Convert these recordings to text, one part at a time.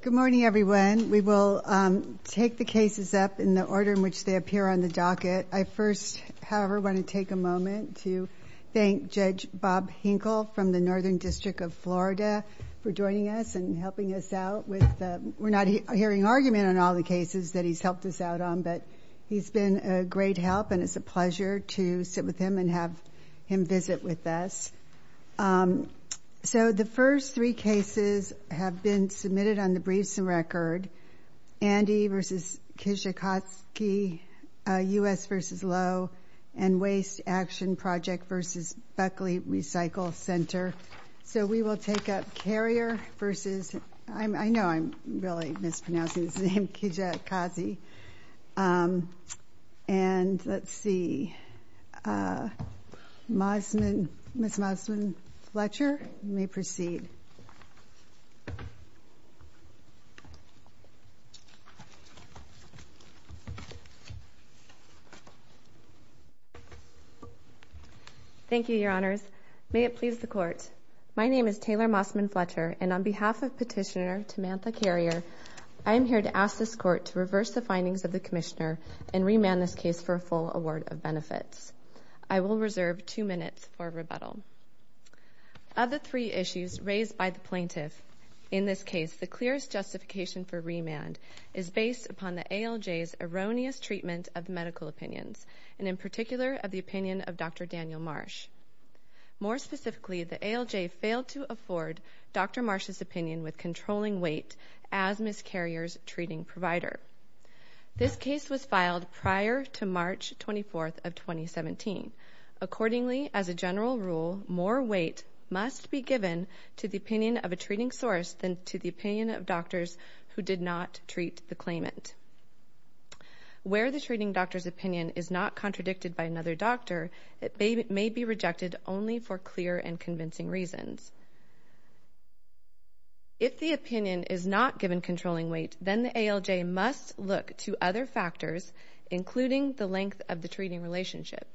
Good morning everyone. We will take the cases up in the order in which they appear on the docket. I first, however, want to take a moment to thank Judge Bob Hinkle from the Northern District of Florida for joining us and helping us out. We're not hearing argument on all the cases that he's helped us out on, but he's been a great help and it's a pleasure to sit with him and have him visit with us. So the first three cases have been submitted on the briefs and record. Andy v. Kijakazi, U.S. v. Lowe, and Waste Action Project v. Buckley Recycle Center. So we will take up Carrier v. I know I'm really mispronouncing his name, Kijakazi. And let's see, Ms. Mossman Fletcher, you may proceed. Thank you, Your Honors. May it please the Court. My name is Taylor Mossman Fletcher and on behalf of Petitioner Tamantha Carrier, I am here to ask this Court to reverse the findings of the Commissioner and remand this case for a full award of benefits. I will reserve two minutes for rebuttal. Of the three issues raised by the plaintiff in this case, the clearest justification for remand is based upon the ALJ's erroneous treatment of medical opinions, and in particular, of the opinion of Dr. Daniel Marsh. More specifically, the opinion with controlling weight as Ms. Carrier's treating provider. This case was filed prior to March 24th of 2017. Accordingly, as a general rule, more weight must be given to the opinion of a treating source than to the opinion of doctors who did not treat the claimant. Where the treating doctor's opinion is not contradicted by another doctor, it may be rejected only for clear and convincing reasons. If the opinion is not given controlling weight, then the ALJ must look to other factors, including the length of the treating relationship.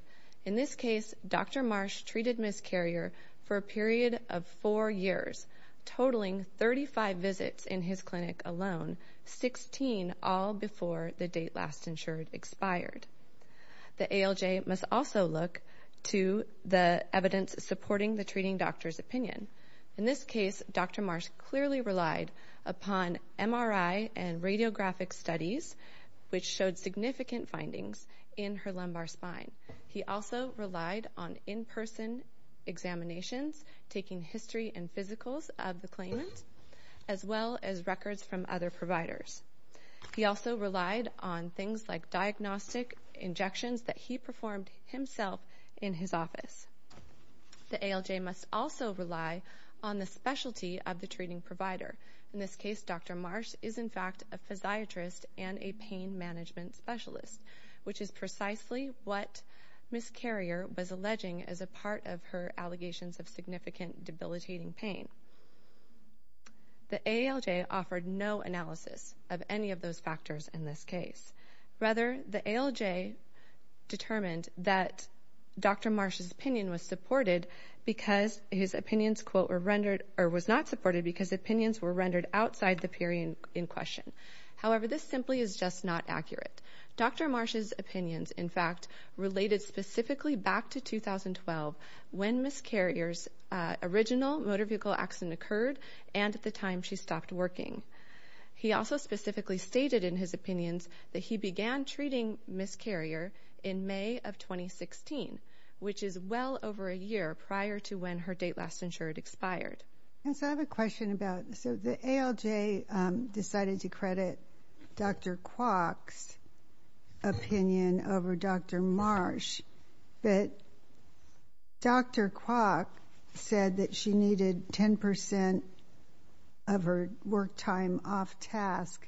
In this case, Dr. Marsh treated Ms. Carrier for a period of four years, totaling 35 visits in his clinic alone, 16 all before the date last insured expired. The ALJ must also look to the evidence supporting the treating doctor's opinion. In this case, Dr. Marsh clearly relied upon MRI and radiographic studies, which showed significant findings in her lumbar spine. He also relied on in-person examinations, taking history and physicals of the claimant, as well as records from other providers. He also relied on things like diagnostic injections that he performed himself in his office. The ALJ must also rely on the specialty of the treating provider. In this case, Dr. Marsh is, in fact, a physiatrist and a pain management specialist, which is precisely what Ms. Carrier was alleging as a part of her allegations of significant debilitating pain. The ALJ offered no analysis of any of those factors in this case, and determined that Dr. Marsh's opinion was supported because his opinions, quote, were rendered, or was not supported because opinions were rendered outside the period in question. However, this simply is just not accurate. Dr. Marsh's opinions, in fact, related specifically back to 2012, when Ms. Carrier's original motor vehicle accident occurred and at the time she stopped working. He also specifically stated in his opinions that he began treating Ms. Carrier in May of 2016, which is well over a year prior to when her date last insured expired. And so I have a question about, so the ALJ decided to credit Dr. Kwok's opinion over Dr. Marsh, but Dr. Kwok said that she needed 10 percent of her work time off task,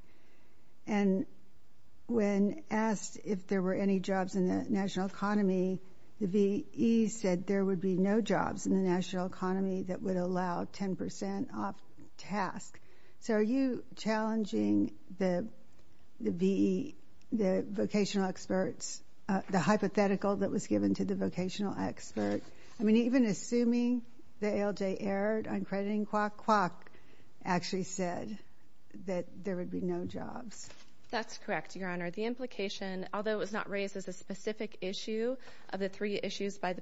and when asked if there were any jobs in the national economy, the V.E. said there would be no jobs in the national economy that would allow 10 percent off task. So are you challenging the V.E., the vocational experts, the hypothetical that was given to the vocational experts? I mean, even assuming the ALJ erred on crediting Kwok, Kwok actually said that there would be no jobs. That's correct, Your Honor. The implication, although it was not raised as a specific issue of the three issues by the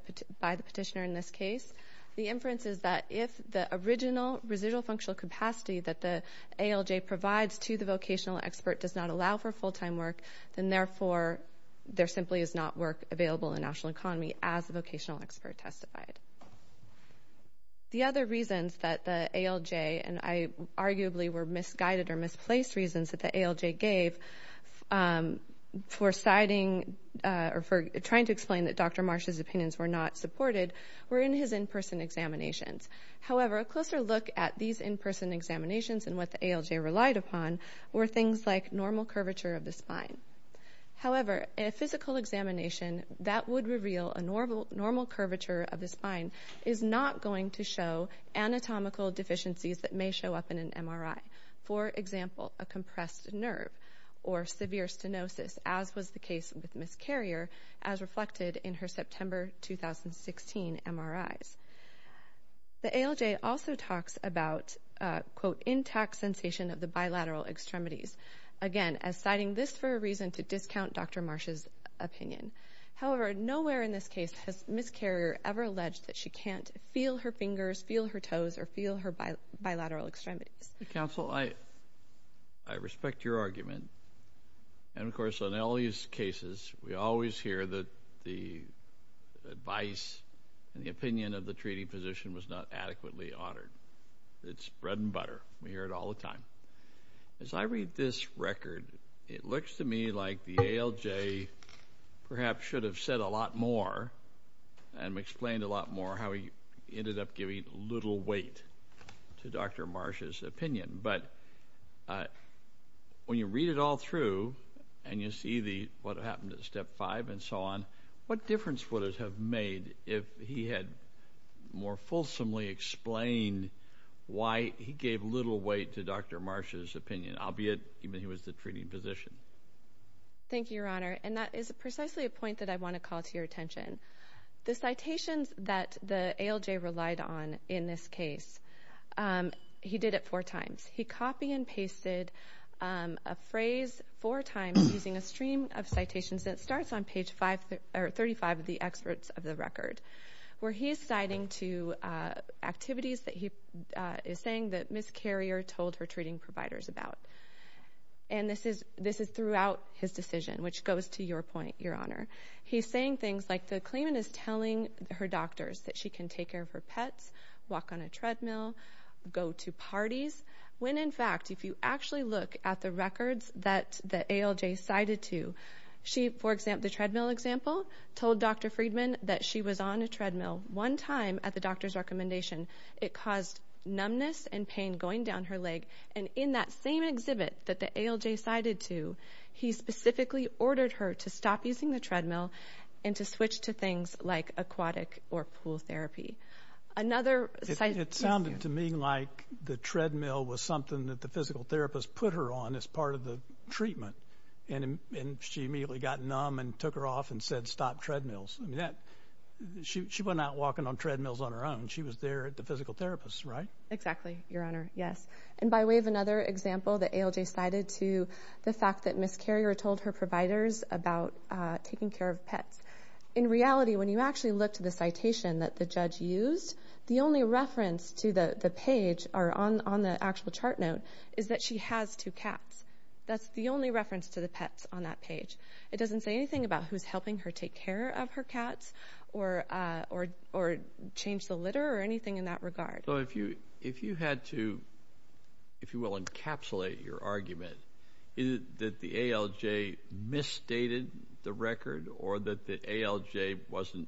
petitioner in this case, the inference is that if the original residual functional capacity that the ALJ provides to the vocational expert does not allow for full-time work, then therefore there simply is not work available in the national economy, as the vocational expert testified. The other reasons that the ALJ, and arguably were misguided or misplaced reasons that the ALJ gave for citing or for trying to explain that Dr. Marsh's opinions were not supported were in his in-person examinations. However, a closer look at these in-person examinations and what the ALJ relied upon were things like normal curvature of the spine. However, a physical examination that would reveal a normal curvature of the spine is not going to show anatomical deficiencies that may show up in an MRI. For example, a compressed nerve or severe stenosis, as was the case with Ms. Carrier, as reflected in her September 2016 MRIs. The ALJ also talks about, quote, intact sensation of the bilateral extremities. Again, as citing this for a reason to discount Dr. Marsh's opinion. However, nowhere in this case has Ms. Carrier ever alleged that she can't feel her fingers, feel her toes, or feel her bilateral extremities. Counsel, I respect your argument. And of course, in all these cases, we always hear that the advice and the opinion of the treating physician was not adequately honored. It's bread and butter. We hear it all the time. As I read this record, it looks to me like the ALJ perhaps should have said a lot more and explained a lot more how he ended up giving little weight to Dr. Marsh's opinion. But when you read it all through and you see what happened at Step 5 and so on, what difference would it have made if he had more fulsomely explained why he gave little weight to Dr. Marsh's opinion, albeit even he was the treating physician? Thank you, Your Honor. And that is precisely a point that I want to call to your attention. The citations that the ALJ relied on in this case, he did it four times. He copy and pasted a phrase four times using a stream of citations that starts on page 35 of the excerpts of the record, where he is citing two activities that he is saying that Ms. Carrier told her throughout his decision, which goes to your point, Your Honor. He's saying things like the claimant is telling her doctors that she can take care of her pets, walk on a treadmill, go to parties, when in fact, if you actually look at the records that the ALJ cited to, she for example, the treadmill example, told Dr. Friedman that she was on a treadmill one time at the doctor's recommendation. It caused numbness and pain going down her leg. And in that same exhibit that the ALJ cited to, he specifically ordered her to stop using the treadmill and to switch to things like aquatic or pool therapy. Another citation. It sounded to me like the treadmill was something that the physical therapist put her on as part of the treatment. And she immediately got numb and took her off and said, stop treadmills. She went out walking on treadmills on her own. She was there at the physical therapist, right? Exactly, Your Honor. Yes. And by way of another example, the ALJ cited to the fact that Ms. Carrier told her providers about taking care of pets. In reality, when you actually look to the citation that the judge used, the only reference to the page or on the actual chart note is that she has two cats. That's the only reference to the pets on that page. It doesn't say anything about who's helping her take care of her cats or change the litter or anything in that regard. So if you had to, if you will, encapsulate your argument, is it that the ALJ misstated the record or that the ALJ wasn't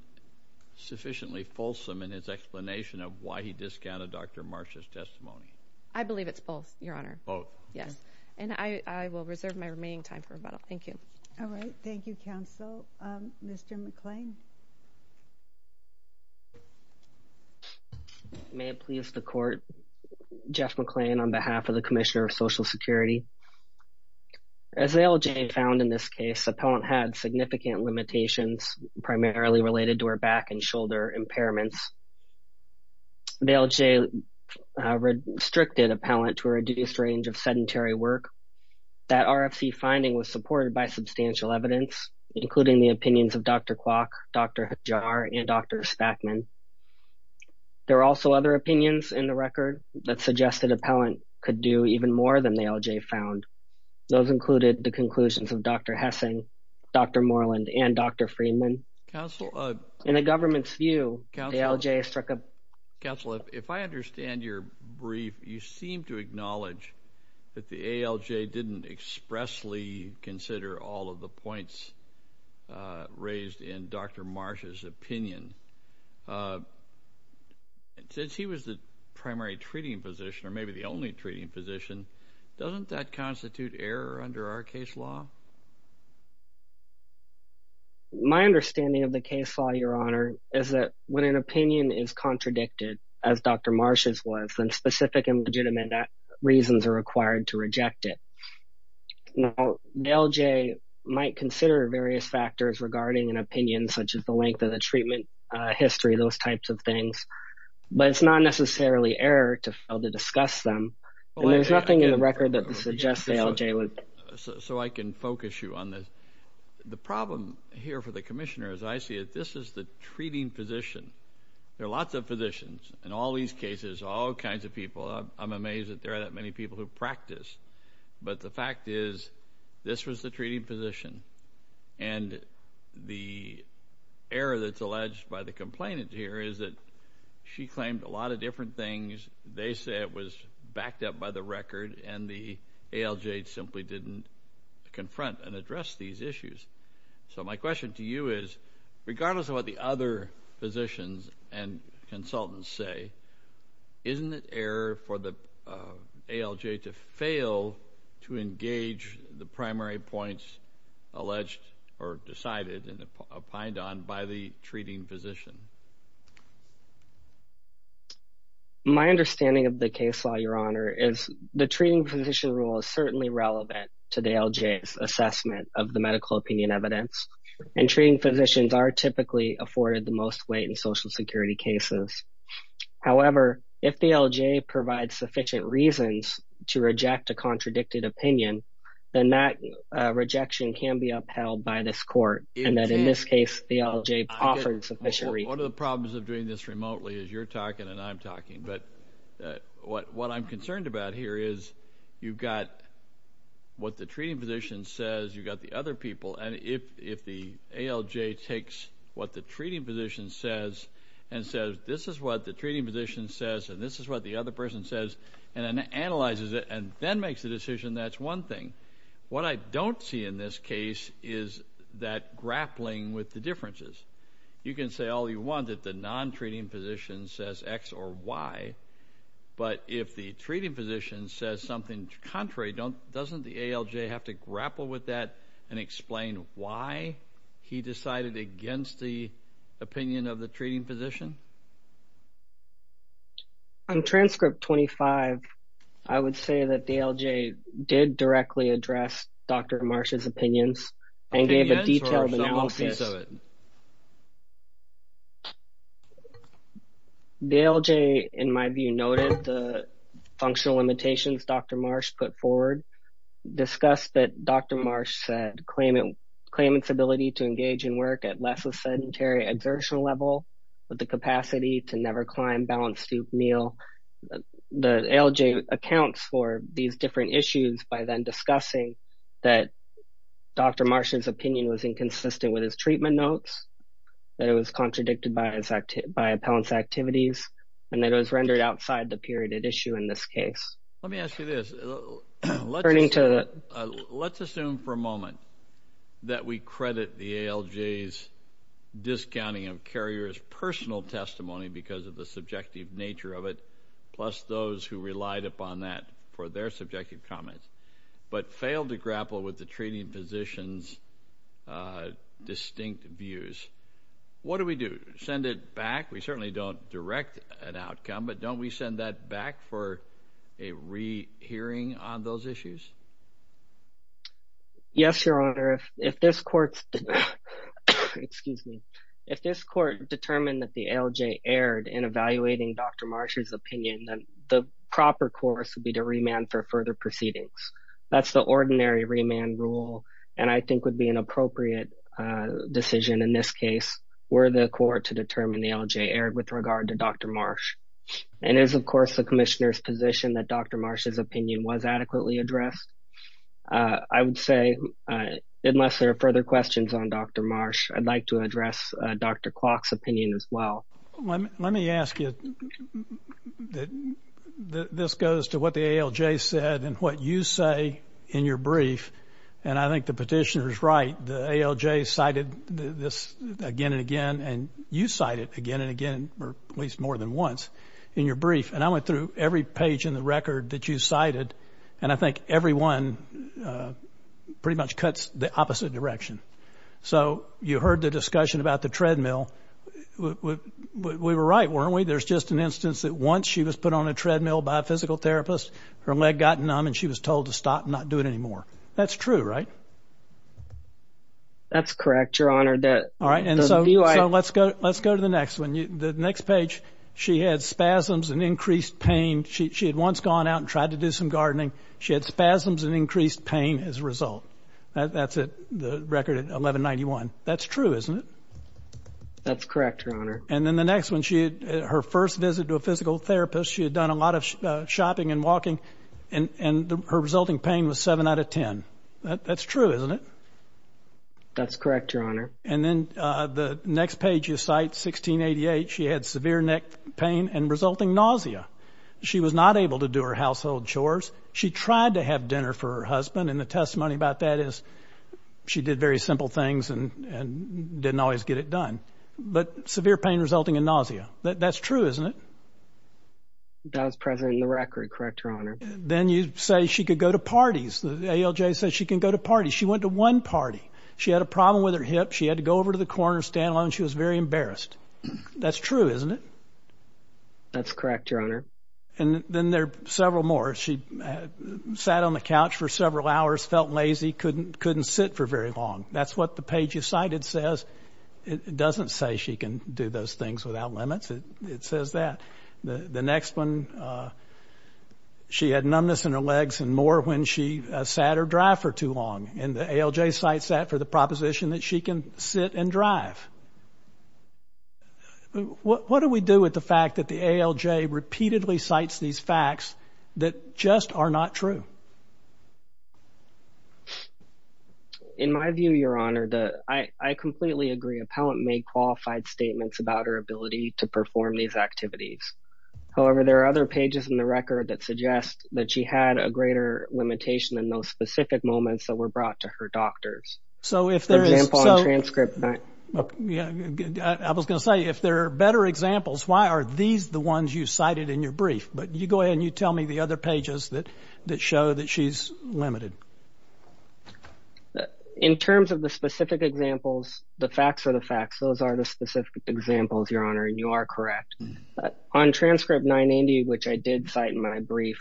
sufficiently fulsome in his explanation of why he discounted Dr. Marsh's testimony? I believe it's both, Your Honor. Both? Yes. And I will reserve my remaining time for rebuttal. Thank you. All right. Thank you, Counsel. Mr. McClain. May it please the Court. Jeff McClain on behalf of the Commissioner of Social Security. As the ALJ found in this case, the appellant had significant limitations primarily related to her back and shoulder impairments. The ALJ restricted appellant to a reduced range of sedentary work. That RFC finding was supported by substantial evidence, including the opinions of Dr. Kwok, Dr. Jar, and Dr. Spackman. There are also other opinions in the record that suggested appellant could do even more than the ALJ found. Those included the conclusions of Dr. Hessing, Dr. Moreland, and Dr. Freedman. In the government's view, the ALJ struck a Council, if I understand your brief, you seem to acknowledge that the ALJ didn't expressly consider all of the points raised in Dr. Marsh's opinion. Since he was the primary treating physician, or maybe the only treating physician, doesn't that constitute error under our case law, Your Honor, is that when an opinion is contradicted, as Dr. Marsh's was, then specific and legitimate reasons are required to reject it. Now, the ALJ might consider various factors regarding an opinion, such as the length of the treatment history, those types of things, but it's not necessarily error to fail to discuss them, and there's nothing in the record that suggests the ALJ would. So I can focus you on this. The problem here for the Commissioner, as I see it, this is the treating physician. There are lots of physicians in all these cases, all kinds of people. I'm amazed that there are that many people who practice. But the fact is, this was the treating physician, and the error that's alleged by the complainant here is that she claimed a lot of different things. They say it was backed up by the record, and the ALJ simply didn't confront and address these issues. So my question to you is, regardless of what the other physicians and consultants say, isn't it error for the ALJ to fail to engage the primary points alleged or decided and opined on by the treating physician? My understanding of the case law, Your Honor, is the treating physician rule is certainly relevant to the ALJ's assessment of the medical opinion evidence, and treating physicians are typically afforded the most weight in Social Security cases. However, if the ALJ provides sufficient reasons to reject a contradicted opinion, then that rejection can be upheld by this Court, and that in this case, the ALJ offered sufficient reasons. One of the problems of doing this remotely is you're talking and I'm talking, but what I'm concerned about here is you've got what the treating physician says, you've got the other people, and if the ALJ takes what the treating physician says and says, this is what the treating physician says, and this is what the other person says, and then analyzes it and then makes a decision, that's one thing. What I don't see in this case is that grappling with the differences. You can say all you want that the non-treating physician says X or Y, but if the treating physician says something contrary, doesn't the ALJ have to grapple with that and explain why he decided against the opinion of the treating physician? On transcript 25, I would say that the ALJ did directly address Dr. Marsh's opinions and gave a detailed analysis. The ALJ, in my view, noted the functional limitations Dr. Marsh put forward, discussed that Dr. Marsh said claim its ability to engage in work at less of sedentary exertion level with the capacity to never climb balanced soup meal. The ALJ accounts for these different issues by then discussing that Dr. Marsh's opinion was inconsistent with his treatment notes, that it was contradicted by appellant's activities, and that it was rendered outside the period at issue in this case. Let me ask you this. Let's assume for a moment that we credit the ALJ's discounting of carrier's personal testimony because of the subjective nature of it, plus those who relied upon that for their subjective comments, but failed to grapple with the treating physician's distinct views. What do we do? Send it back? We certainly don't direct an outcome, but don't we send that back for a rehearing on those issues? Yes, Your Honor. If this court determined that the ALJ erred in evaluating Dr. Marsh's opinion, then the proper course would be to remand for further proceedings. That's the ordinary remand rule and I think would be an appropriate decision in this case were the court to determine the ALJ erred with regard to Dr. Marsh. It is, of course, the commissioner's position that Dr. Marsh's opinion was adequately addressed. I would say, unless there are further questions on Dr. Marsh, I'd like to address Dr. Clark's opinion as well. Let me ask you, this goes to what the ALJ said and what you say in your brief, and I think the petitioner's right. The ALJ cited this again and again, and you cite it again or at least more than once in your brief, and I went through every page in the record that you cited, and I think every one pretty much cuts the opposite direction. So, you heard the discussion about the treadmill. We were right, weren't we? There's just an instance that once she was put on a treadmill by a physical therapist, her leg got numb and she was told to stop and not do it anymore. That's true, right? That's correct, Your Honor. All right, and so let's go to the next one. The next page, she had spasms and increased pain. She had once gone out and tried to do some gardening. She had spasms and increased pain as a result. That's the record at 1191. That's true, isn't it? That's correct, Your Honor. And then the next one, her first visit to a physical therapist, she had done a lot of shopping and walking, and her resulting pain was 7 out of 10. That's true, isn't it? That's correct, Your Honor. The next page you cite, 1688, she had severe neck pain and resulting nausea. She was not able to do her household chores. She tried to have dinner for her husband, and the testimony about that is she did very simple things and didn't always get it done. But severe pain resulting in nausea. That's true, isn't it? That was present in the record, correct, Your Honor. Then you say she could go to parties. The ALJ says she can go to parties. She went to one party. She had a problem with her hip. She had to go over to the corner, stand alone, and she was very embarrassed. That's true, isn't it? That's correct, Your Honor. And then there are several more. She sat on the couch for several hours, felt lazy, couldn't sit for very long. That's what the page you cited says. It doesn't say she can do those things without limits. It says that. The next one, she had numbness in her legs and more when she sat or drived for too long. And the ALJ cites that for the proposition that she can sit and drive. What do we do with the fact that the ALJ repeatedly cites these facts that just are not true? In my view, Your Honor, I completely agree. Appellant made qualified statements about her ability to perform these activities. However, there are other pages in the record that suggest that she had a greater limitation in those specific moments that were brought to her doctors. I was going to say, if there are better examples, why are these the ones you cited in your brief? But you go ahead and you tell me the other pages that show that she's limited. In terms of the specific examples, the facts are the facts. Those are the specific examples, Your Honor, and you are correct. On transcript 980, which I did cite in my brief,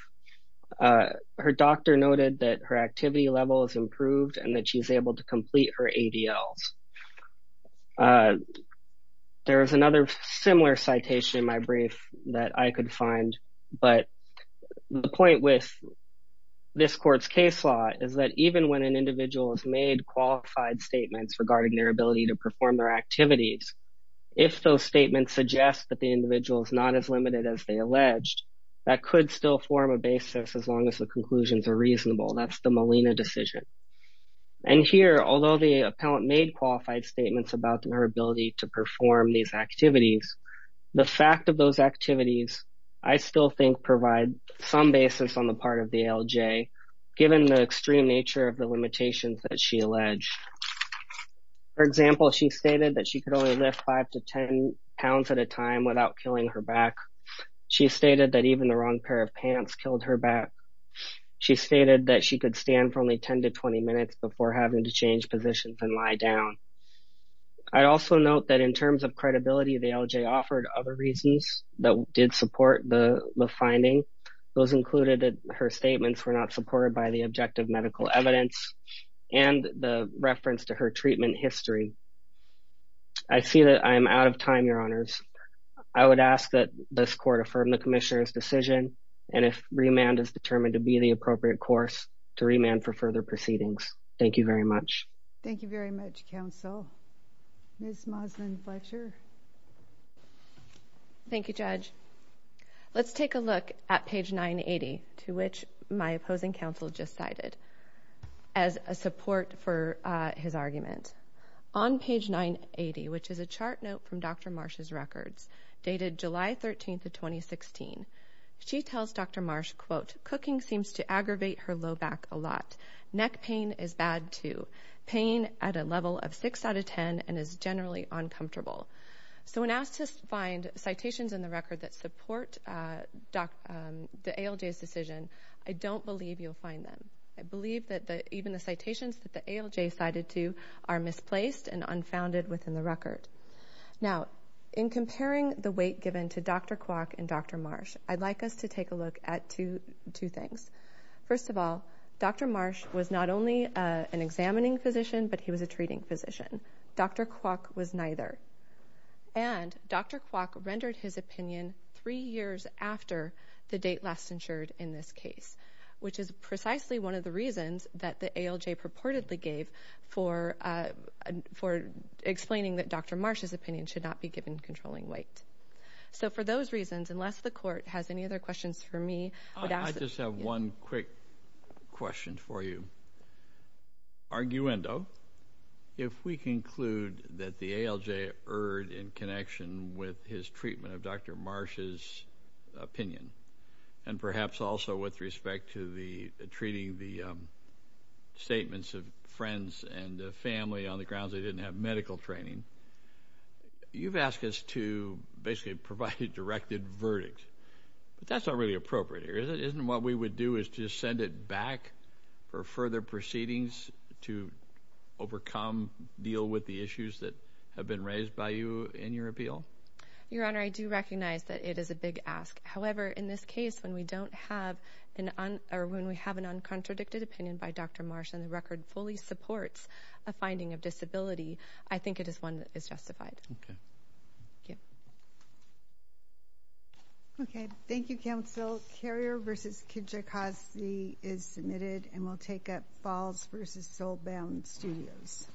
her doctor noted that her activity level has improved and that she's able to complete her ADLs. There is another similar citation in my brief that I could find, but the point with this court's case law is that even when an individual has made qualified statements regarding their ability to perform their activities, if those statements suggest that the individual is not as limited as they alleged, that could still form a basis as long as the conclusions are reasonable. That's the Molina decision. And here, although the appellant made qualified statements about her ability to perform these activities, the fact of those activities, I still think, provide some basis on the part of the ALJ given the extreme nature of the limitations that she alleged. For example, she stated that she could only lift 5 to 10 pounds at a time without killing her back. She stated that even the wrong pair of pants killed her back. She stated that she could stand for only 10 to 20 minutes before having to change positions and lie down. I also note that in terms of credibility, the ALJ offered other reasons that did support the finding. Those included that her statements were not supported by the objective medical evidence and the reference to her treatment history. I see that I am out of time, Your Honors. I would ask that this court affirm the Commissioner's decision and if remand is determined to be the appropriate course to remand for further proceedings. Thank you very much. Thank you very much, Counsel. Ms. Moslyn Fletcher. Thank you, Judge. Let's take a look at page 980, to which my opposing counsel just cited as a support for his argument. On page 980, which is a chart note from Dr. Marsh's records, dated July 13th of 2016, she tells Dr. Marsh, quote, cooking seems to aggravate her low back a lot. Neck pain is bad, too. Pain at a level of 6 out of 10 and is generally uncomfortable. So when asked to find citations in the record that support the ALJ's decision, I don't believe you'll find them. I believe that even the citations that the ALJ cited to are misplaced and unfounded within the record. Now, in comparing the weight given to Dr. Kwok and Dr. Marsh, I'd like us to take a look at two things. First of all, Dr. Marsh was not only an examining physician, but he was a doctor. And Dr. Kwok rendered his opinion three years after the date last insured in this case, which is precisely one of the reasons that the ALJ purportedly gave for explaining that Dr. Marsh's opinion should not be given controlling weight. So for those reasons, unless the Court has any other questions for me, I'd ask that— I just have one quick question for you. Arguendo, if we conclude that the ALJ erred in connection with his treatment of Dr. Marsh's opinion, and perhaps also with respect to the treating the statements of friends and family on the grounds they didn't have medical training, you've asked us to basically provide a directed verdict. But that's not really appropriate here, is it? Isn't what we would do is just send it back for further proceedings to overcome, deal with the issues that have been raised by you in your appeal? Your Honor, I do recognize that it is a big ask. However, in this case, when we don't have an—or when we have an uncontradicted opinion by Dr. Marsh and the record fully supports a finding of disability, I think it is one that is justified. Okay. Thank you. Carrier v. Kijikazi is submitted and will take up Falls v. Soulbound Studios.